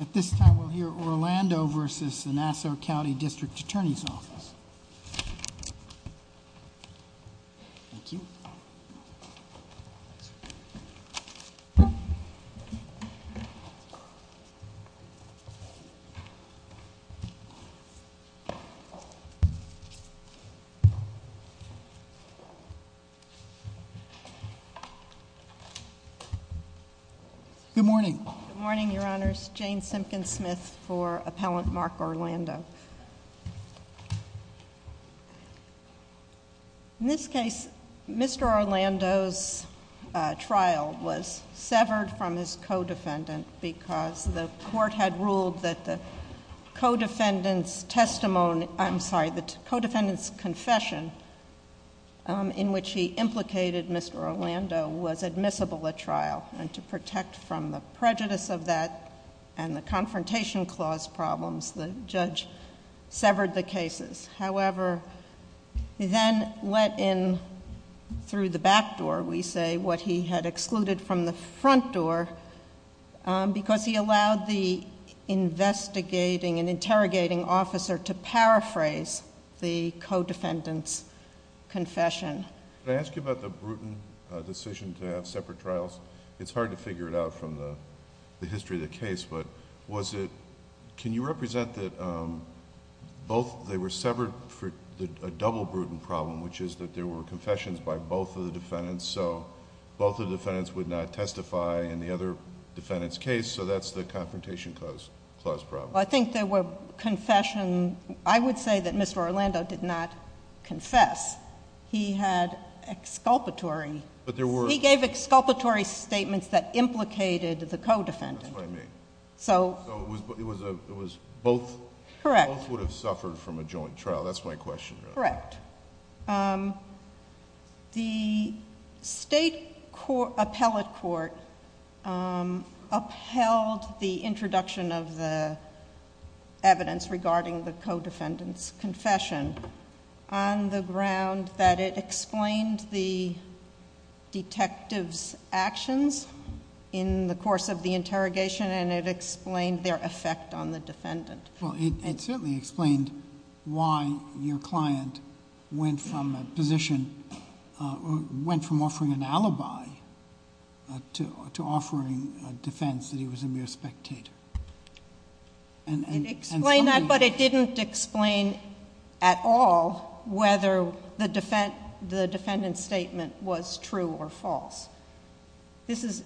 At this time we'll hear Orlando v. Nassau County District Attorney's Office. Thank you. Good morning. Good morning, Your Honors. Jane Simpkins-Smith for Appellant Mark Orlando. In this case, Mr. Orlando's trial was severed from his co-defendant because the court had ruled that the co-defendant's confession in which he implicated Mr. Orlando was admissible at trial. And to protect from the prejudice of that and the confrontation clause problems, the judge severed the cases. However, he then let in through the back door, we say, what he had excluded from the front door because he allowed the investigating and interrogating officer to paraphrase the co-defendant's confession. Could I ask you about the Bruton decision to have separate trials? It's hard to figure it out from the history of the case, but was it... can you represent that both... they were severed for a double Bruton problem, which is that there were confessions by both of the defendants, so both of the defendants would not testify in the other defendant's case, so that's the confrontation clause problem. Well, I think there were confession... I would say that Mr. Orlando did not confess. He had exculpatory... But there were... He gave exculpatory statements that implicated the co-defendant. That's what I mean. So... So it was both... Correct. Both would have suffered from a joint trial. That's my question. Correct. The State Appellate Court upheld the introduction of the evidence regarding the co-defendant's confession on the ground that it explained the detective's actions in the course of the interrogation and it explained their effect on the defendant. Well, it certainly explained why your client went from a position... went from offering an alibi to offering a defense that he was a mere spectator. It explained that, but it didn't explain at all whether the defendant's statement was true or false. This is...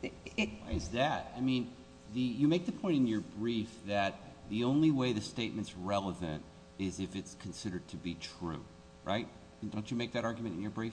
Why is that? I mean, you make the point in your brief that the only way the statement's relevant is if it's considered to be true, right? Don't you make that argument in your brief?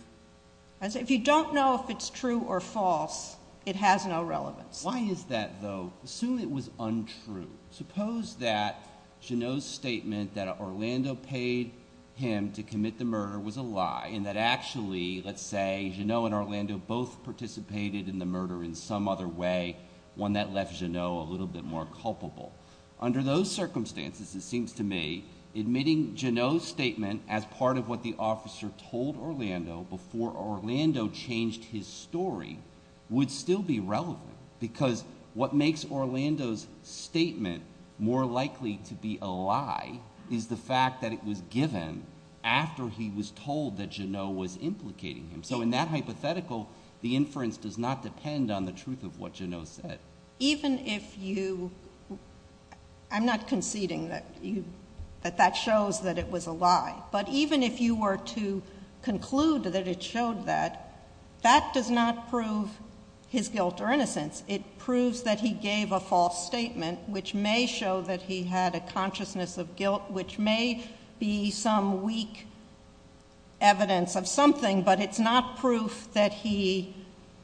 If you don't know if it's true or false, it has no relevance. Why is that, though? Assume it was untrue. Suppose that Jeannot's statement that Orlando paid him to commit the murder was a lie and that actually, let's say, Jeannot and Orlando both participated in the murder in some other way, one that left Jeannot a little bit more culpable. Under those circumstances, it seems to me, admitting Jeannot's statement as part of what the officer told Orlando before Orlando changed his story would still be relevant because what makes Orlando's statement more likely to be a lie is the fact that it was given after he was told that Jeannot was implicating him. So in that hypothetical, the inference does not depend on the truth of what Jeannot said. Even if you, I'm not conceding that that shows that it was a lie, but even if you were to conclude that it showed that, that does not prove his guilt or innocence. It proves that he gave a false statement, which may show that he had a consciousness of guilt, which may be some weak evidence of something, but it's not proof that he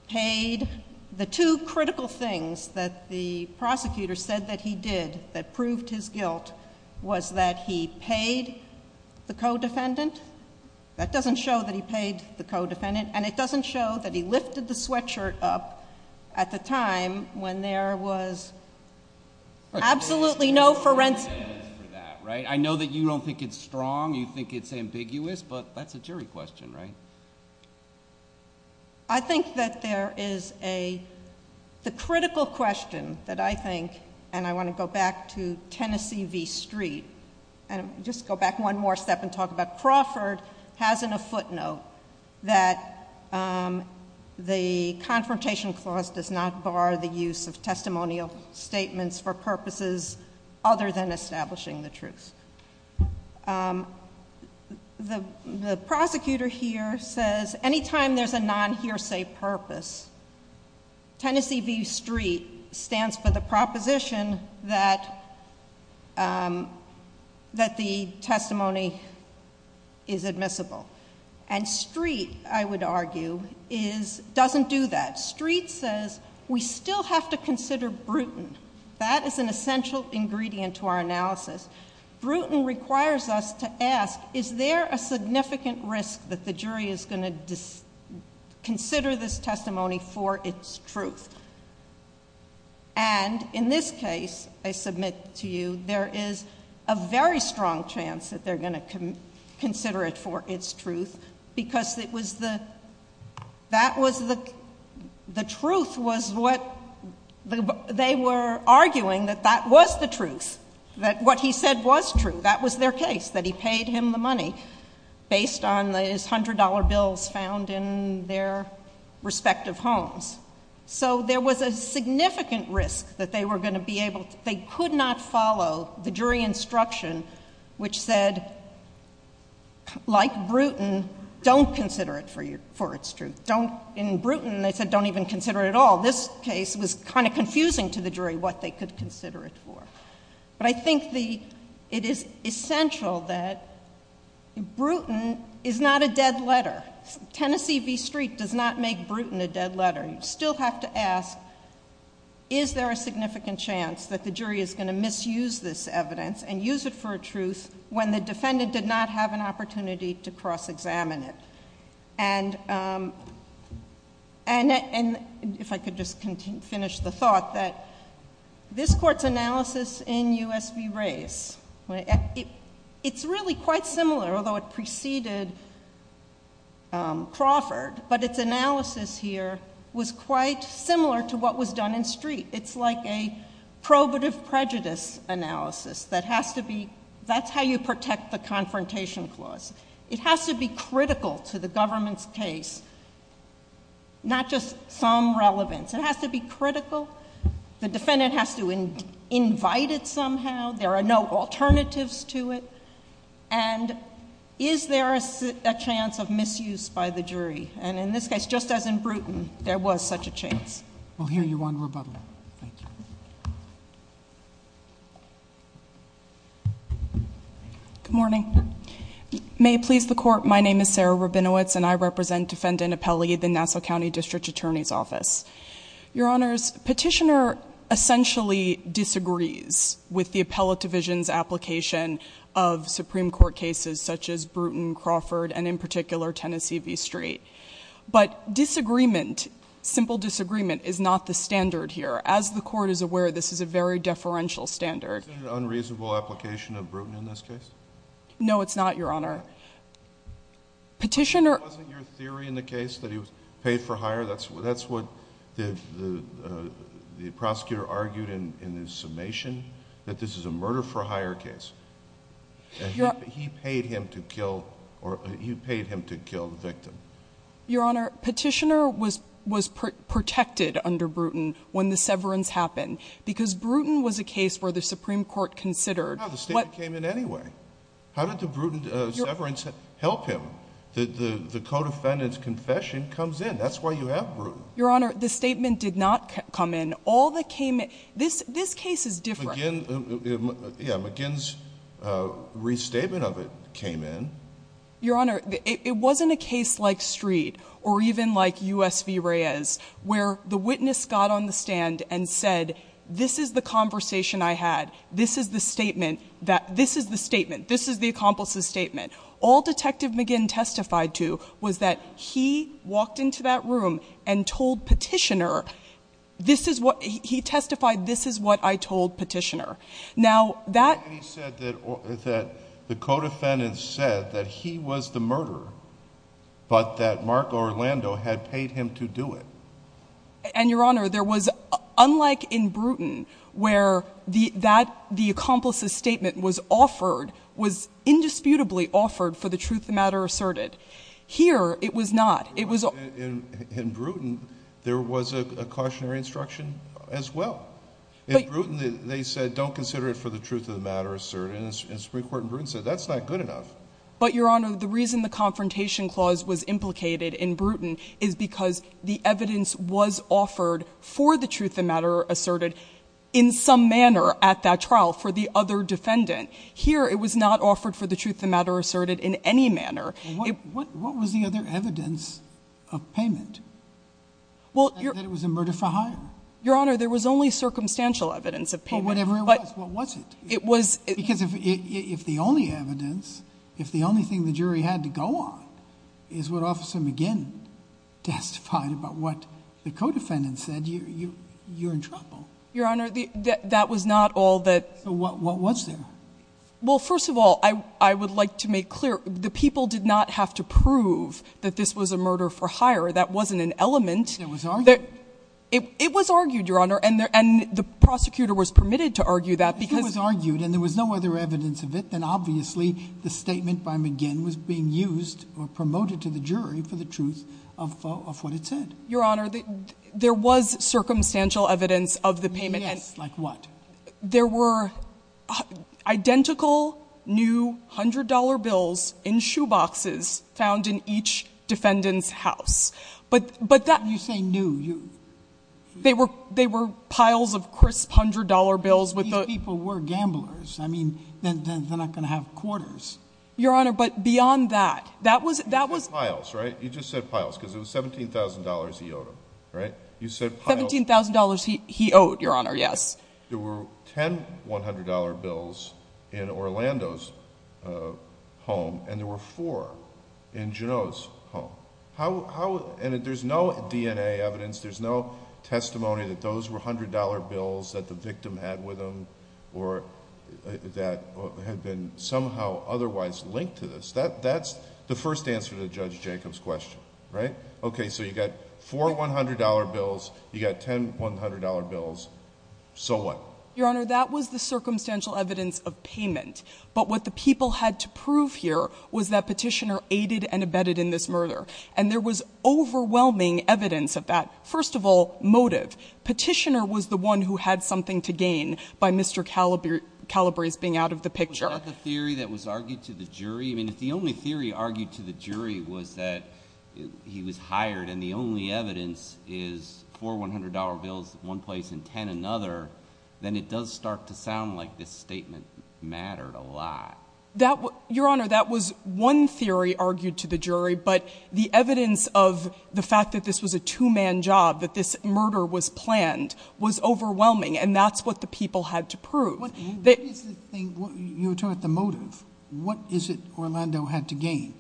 paid. I think the two critical things that the prosecutor said that he did that proved his guilt was that he paid the co-defendant. That doesn't show that he paid the co-defendant and it doesn't show that he lifted the sweatshirt up at the time when there was absolutely no forensic evidence for that, right? I know that you don't think it's strong. You think it's ambiguous, but that's a jury question, right? I think that there is a, the critical question that I think, and I want to go back to Tennessee v. Street and just go back one more step and talk about Crawford, has in a footnote that the confrontation clause does not bar the use of testimonial statements for purposes other than establishing the truth. The prosecutor here says, anytime there's a non-hearsay purpose, Tennessee v. Street stands for the proposition that the testimony is admissible. And Street, I would argue, doesn't do that. Street says, we still have to consider Bruton. That is an essential ingredient to our analysis. Bruton requires us to ask, is there a significant risk that the jury is going to consider this testimony for its truth? And in this case, I submit to you, there is a very strong chance that they're going to consider it for its truth. Because it was the, that was the, the truth was what, they were arguing that that was the truth. That what he said was true. That was their case, that he paid him the money based on his $100 bills found in their respective homes. So there was a significant risk that they were going to be able, they could not follow the jury instruction, which said, like Bruton, don't consider it for your, for its truth. Don't, in Bruton, they said don't even consider it at all. This case was kind of confusing to the jury what they could consider it for. But I think the, it is essential that Bruton is not a dead letter. Tennessee v. Street does not make Bruton a dead letter. You still have to ask, is there a significant chance that the jury is going to misuse this evidence and use it for a truth when the defendant did not have an opportunity to cross-examine it? And if I could just finish the thought that this court's analysis in U.S. v. Race, it's really quite similar, although it preceded Crawford. But its analysis here was quite similar to what was done in Street. It's like a probative prejudice analysis that has to be, that's how you protect the confrontation clause. It has to be critical to the government's case, not just some relevance. It has to be critical. The defendant has to invite it somehow. There are no alternatives to it. And is there a chance of misuse by the jury? And in this case, just as in Bruton, there was such a chance. We'll hear you on rebuttal. Thank you. Good morning. May it please the Court, my name is Sarah Rabinowitz, and I represent Defendant Apelli, the Nassau County District Attorney's Office. Your Honors, Petitioner essentially disagrees with the Appellate Division's application of Supreme Court cases such as Bruton, Crawford, and in particular, Tennessee v. Street. But disagreement, simple disagreement, is not the standard here. As the Court is aware, this is a very deferential standard. Is there an unreasonable application of Bruton in this case? No, it's not, Your Honor. Petitioner... ...paid for hire, that's what the prosecutor argued in his summation, that this is a murder-for-hire case. He paid him to kill the victim. Your Honor, Petitioner was protected under Bruton when the severance happened because Bruton was a case where the Supreme Court considered... No, the statement came in anyway. How did the Bruton severance help him? The co-defendant's confession comes in. That's why you have Bruton. Your Honor, the statement did not come in. All that came in... This case is different. McGinn's restatement of it came in. Your Honor, it wasn't a case like Street or even like U.S. v. Reyes where the witness got on the stand and said, this is the conversation I had, this is the statement, this is the accomplice's statement. All Detective McGinn testified to was that he walked into that room and told Petitioner, he testified, this is what I told Petitioner. Now, that... He said that the co-defendant said that he was the murderer, but that Marco Orlando had paid him to do it. And, Your Honor, there was, unlike in Bruton, where the accomplice's statement was offered, was indisputably offered for the truth of the matter asserted. Here, it was not. It was... In Bruton, there was a cautionary instruction as well. In Bruton, they said, don't consider it for the truth of the matter asserted. And the Supreme Court in Bruton said, that's not good enough. But, Your Honor, the reason the Confrontation Clause was implicated in Bruton is because the evidence was offered for the truth of the matter asserted in some manner at that trial for the other defendant. Here, it was not offered for the truth of the matter asserted in any manner. What was the other evidence of payment? That it was a murder for hire? Your Honor, there was only circumstantial evidence of payment. Well, whatever it was, what was it? It was... Because if the only evidence, if the only thing the jury had to go on, is what Officer McGinn testified about what the co-defendant said, you're in trouble. Your Honor, that was not all that... What was there? Well, first of all, I would like to make clear, the people did not have to prove that this was a murder for hire. That wasn't an element. It was argued. It was argued, Your Honor, and the prosecutor was permitted to argue that because... If there was no other evidence of it, then obviously the statement by McGinn was being used or promoted to the jury for the truth of what it said. Your Honor, there was circumstantial evidence of the payment. Yes, like what? There were identical new $100 bills in shoeboxes found in each defendant's house. But that... When you say new, you... They were piles of crisp $100 bills with the... Those people were gamblers. I mean, they're not going to have quarters. Your Honor, but beyond that, that was... You said piles, right? You just said piles because it was $17,000 he owed them, right? You said piles... $17,000 he owed, Your Honor, yes. There were 10 $100 bills in Orlando's home, and there were four in Juneau's home. And there's no DNA evidence, there's no testimony that those were $100 bills that the victim had with them or that had been somehow otherwise linked to this. That's the first answer to Judge Jacob's question, right? Okay, so you got four $100 bills, you got 10 $100 bills, so what? Your Honor, that was the circumstantial evidence of payment. But what the people had to prove here was that Petitioner aided and abetted in this murder. And there was overwhelming evidence of that. First of all, motive. Petitioner was the one who had something to gain by Mr. Calabrese being out of the picture. Was that the theory that was argued to the jury? I mean, if the only theory argued to the jury was that he was hired and the only evidence is four $100 bills in one place and 10 in another, then it does start to sound like this statement mattered a lot. Your Honor, that was one theory argued to the jury, but the evidence of the fact that this was a two-man job, that this murder was planned, was overwhelming. And that's what the people had to prove. You were talking about the motive. What is it Orlando had to gain?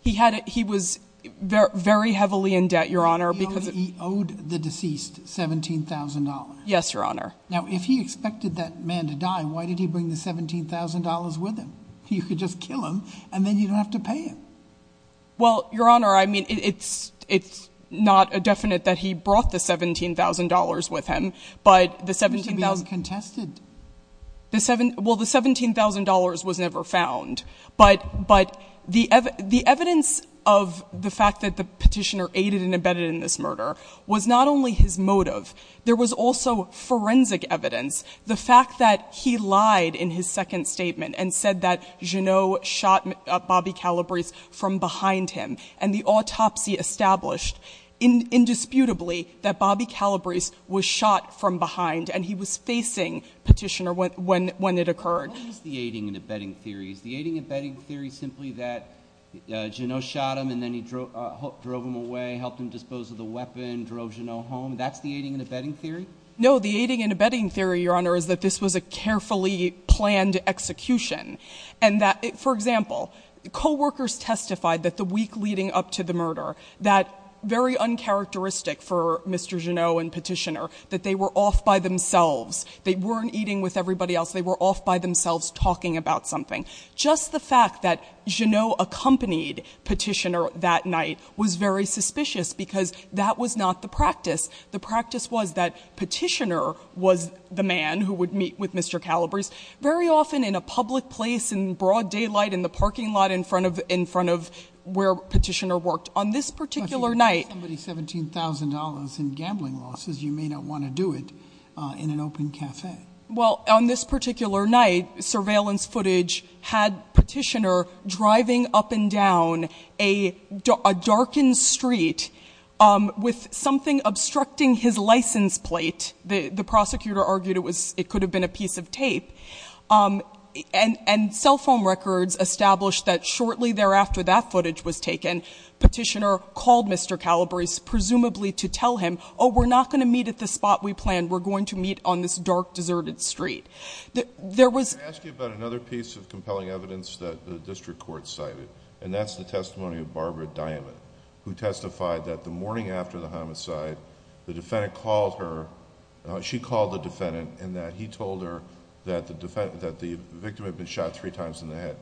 He was very heavily in debt, Your Honor. He owed the deceased $17,000. Yes, Your Honor. Now, if he expected that man to die, why did he bring the $17,000 with him? You could just kill him, and then you don't have to pay him. Well, Your Honor, I mean, it's not definite that he brought the $17,000 with him, but the $17,000— Well, the $17,000 was never found. But the evidence of the fact that the petitioner aided and abetted in this murder was not only his motive. There was also forensic evidence, the fact that he lied in his second statement and said that Jeannot shot Bobby Calabrese from behind him. And the autopsy established, indisputably, that Bobby Calabrese was shot from behind, and he was facing petitioner when it occurred. What is the aiding and abetting theory? Is the aiding and abetting theory simply that Jeannot shot him, and then he drove him away, helped him dispose of the weapon, drove Jeannot home? That's the aiding and abetting theory? No. The aiding and abetting theory, Your Honor, is that this was a carefully planned execution, and that—for example, co-workers testified that the week leading up to the murder, that very uncharacteristic for Mr. Jeannot and petitioner, that they were off by themselves. They weren't eating with everybody else. They were off by themselves talking about something. Just the fact that Jeannot accompanied petitioner that night was very suspicious because that was not the practice. The practice was that petitioner was the man who would meet with Mr. Calabrese very often in a public place in broad daylight, in the parking lot in front of where petitioner worked. On this particular night— But if you give somebody $17,000 in gambling losses, you may not want to do it in an open café. Well, on this particular night, surveillance footage had petitioner driving up and down a darkened street with something obstructing his license plate. The prosecutor argued it was—it could have been a piece of tape. And cell phone records established that shortly thereafter that footage was taken, petitioner called Mr. Calabrese presumably to tell him, Oh, we're not going to meet at the spot we planned. We're going to meet on this dark, deserted street. There was— Can I ask you about another piece of compelling evidence that the district court cited? And that's the testimony of Barbara Diamond, who testified that the morning after the homicide, the defendant called her—she called the defendant and that he told her that the victim had been shot three times in the head.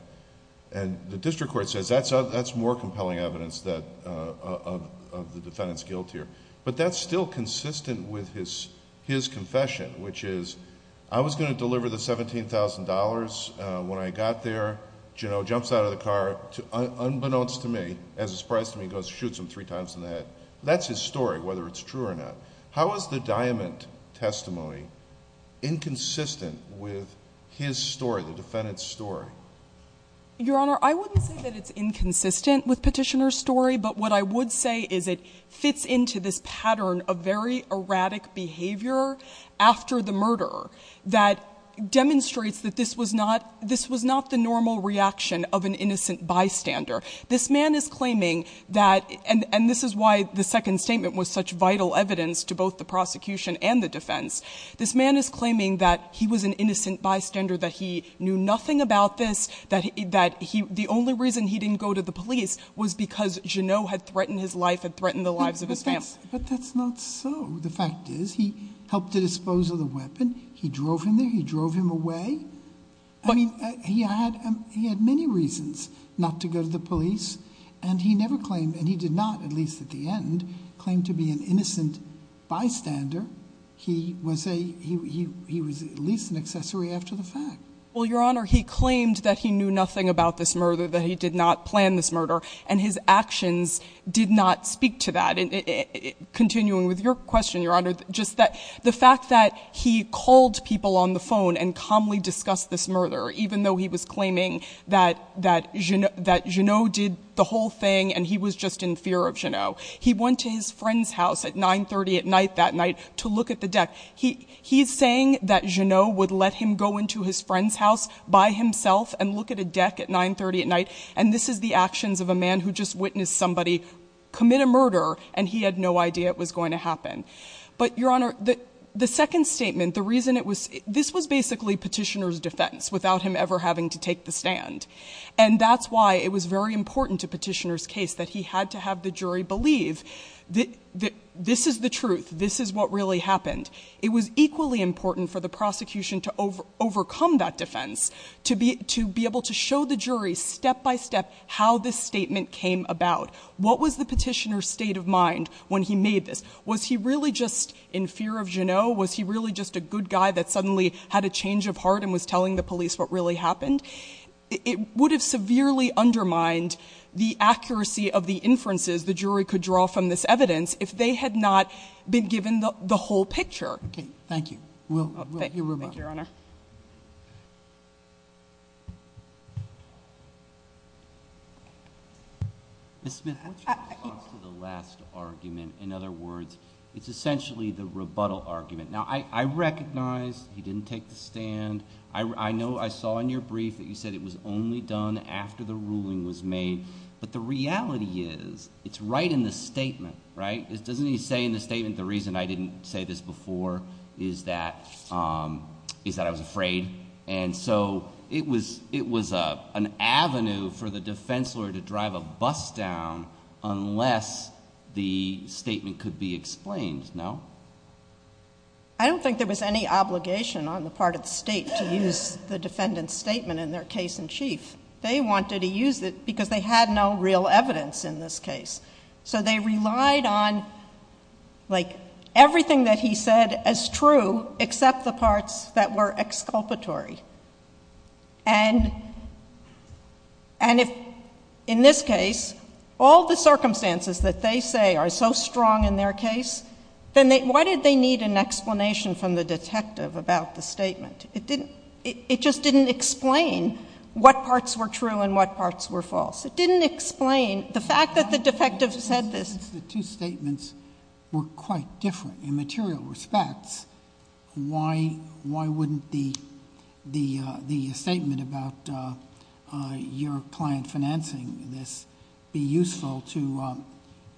And the district court says that's more compelling evidence of the defendant's guilt here. But that's still consistent with his confession, which is I was going to deliver the $17,000. When I got there, you know, jumps out of the car, unbeknownst to me, as a surprise to me, goes, shoots him three times in the head. That's his story, whether it's true or not. How is the Diamond testimony inconsistent with his story, the defendant's story? Your Honor, I wouldn't say that it's inconsistent with petitioner's story. But what I would say is it fits into this pattern of very erratic behavior after the murder that demonstrates that this was not— this was not the normal reaction of an innocent bystander. This man is claiming that—and this is why the second statement was such vital evidence to both the prosecution and the defense. This man is claiming that he was an innocent bystander, that he knew nothing about this, that the only reason he didn't go to the police was because Jeannot had threatened his life and threatened the lives of his family. But that's not so. The fact is he helped to dispose of the weapon. He drove him there. He drove him away. I mean, he had many reasons not to go to the police. And he never claimed—and he did not, at least at the end, claim to be an innocent bystander. He was a—he was at least an accessory after the fact. Well, Your Honor, he claimed that he knew nothing about this murder, that he did not plan this murder, and his actions did not speak to that. Continuing with your question, Your Honor, just the fact that he called people on the phone and calmly discussed this murder, even though he was claiming that Jeannot did the whole thing and he was just in fear of Jeannot. He went to his friend's house at 9.30 at night that night to look at the deck. He's saying that Jeannot would let him go into his friend's house by himself and look at a deck at 9.30 at night. And this is the actions of a man who just witnessed somebody commit a murder, and he had no idea it was going to happen. But, Your Honor, the second statement, the reason it was—this was basically Petitioner's defense without him ever having to take the stand. And that's why it was very important to Petitioner's case that he had to have the jury believe that this is the truth, this is what really happened. It was equally important for the prosecution to overcome that defense, to be able to show the jury step by step how this statement came about. What was the Petitioner's state of mind when he made this? Was he really just in fear of Jeannot? Was he really just a good guy that suddenly had a change of heart and was telling the police what really happened? It would have severely undermined the accuracy of the inferences the jury could draw from this evidence if they had not been given the whole picture. Okay. Thank you. Will, your rebuttal. Thank you, Your Honor. Ms. Smith, what's your response to the last argument? In other words, it's essentially the rebuttal argument. Now, I recognize he didn't take the stand. I know I saw in your brief that you said it was only done after the ruling was made. But the reality is it's right in the statement, right? Doesn't he say in the statement the reason I didn't say this before is that I was afraid? And so it was an avenue for the defense lawyer to drive a bus down unless the statement could be explained, no? I don't think there was any obligation on the part of the state to use the defendant's statement in their case in chief. They wanted to use it because they had no real evidence in this case. So they relied on, like, everything that he said as true except the parts that were exculpatory. And if in this case all the circumstances that they say are so strong in their case, then why did they need an explanation from the detective about the statement? It just didn't explain what parts were true and what parts were false. It didn't explain the fact that the defective said this. If the two statements were quite different in material respects, why wouldn't the statement about your client financing this be useful to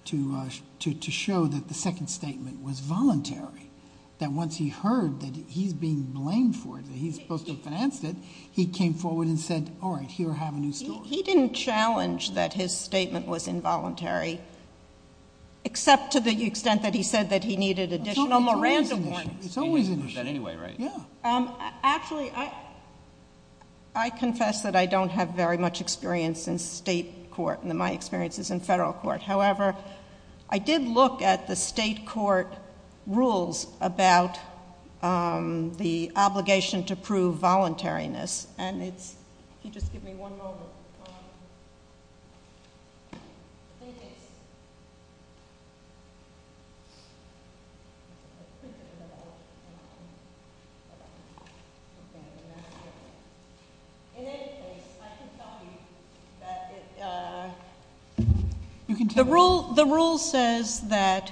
show that the second statement was voluntary, that once he heard that he's being blamed for it, that he's supposed to have financed it, he came forward and said, all right, here, have a new story. He didn't challenge that his statement was involuntary, except to the extent that he said that he needed additional Miranda warnings. It's always an issue. He didn't use that anyway, right? Yeah. Actually, I confess that I don't have very much experience in state court. My experience is in federal court. However, I did look at the state court rules about the obligation to prove voluntariness, and if you just give me one moment. In any case, I can tell you that the rule says that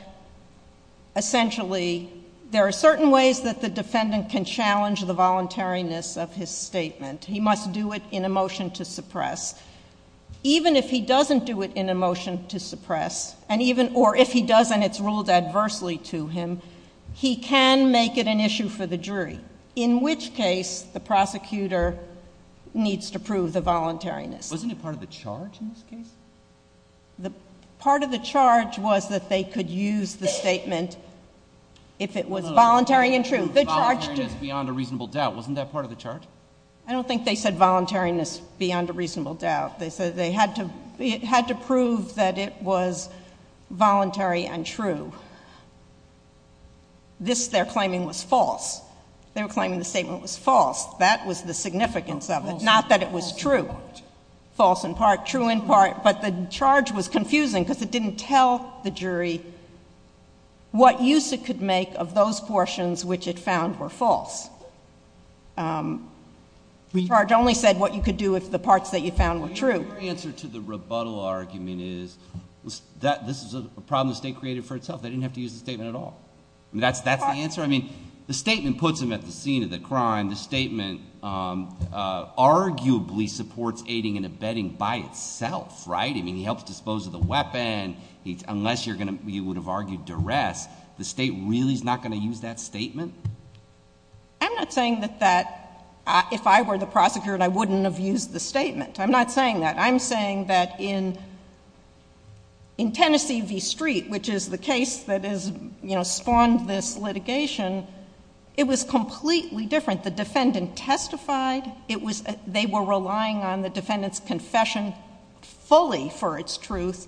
essentially there are certain ways that the defendant can challenge the voluntariness of his statement. He must do it in a motion to suppress. Even if he doesn't do it in a motion to suppress, or if he does and it's ruled adversely to him, he can make it an issue for the jury, in which case the prosecutor needs to prove the voluntariness. Wasn't it part of the charge in this case? The part of the charge was that they could use the statement if it was voluntary and true. The charge to— It was voluntariness beyond a reasonable doubt. Wasn't that part of the charge? I don't think they said voluntariness beyond a reasonable doubt. They said they had to prove that it was voluntary and true. This, they're claiming, was false. They were claiming the statement was false. That was the significance of it, not that it was true. False in part, true in part. But the charge was confusing because it didn't tell the jury what use it could make of those portions which it found were false. The charge only said what you could do if the parts that you found were true. Your answer to the rebuttal argument is that this is a problem the state created for itself. They didn't have to use the statement at all. That's the answer? I mean, the statement puts him at the scene of the crime. The statement arguably supports aiding and abetting by itself, right? I mean, he helps dispose of the weapon. Unless you would have argued duress, the state really is not going to use that statement? I'm not saying that if I were the prosecutor, I wouldn't have used the statement. I'm not saying that. I'm saying that in Tennessee v. Street, which is the case that spawned this litigation, it was completely different. The defendant testified. They were relying on the defendant's confession fully for its truth.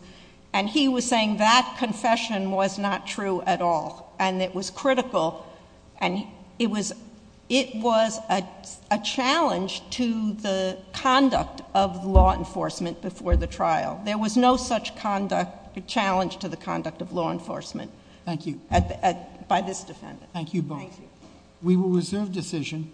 And he was saying that confession was not true at all. And it was critical. And it was a challenge to the conduct of law enforcement before the trial. There was no such challenge to the conduct of law enforcement by this defendant. Thank you both. We will reserve decision.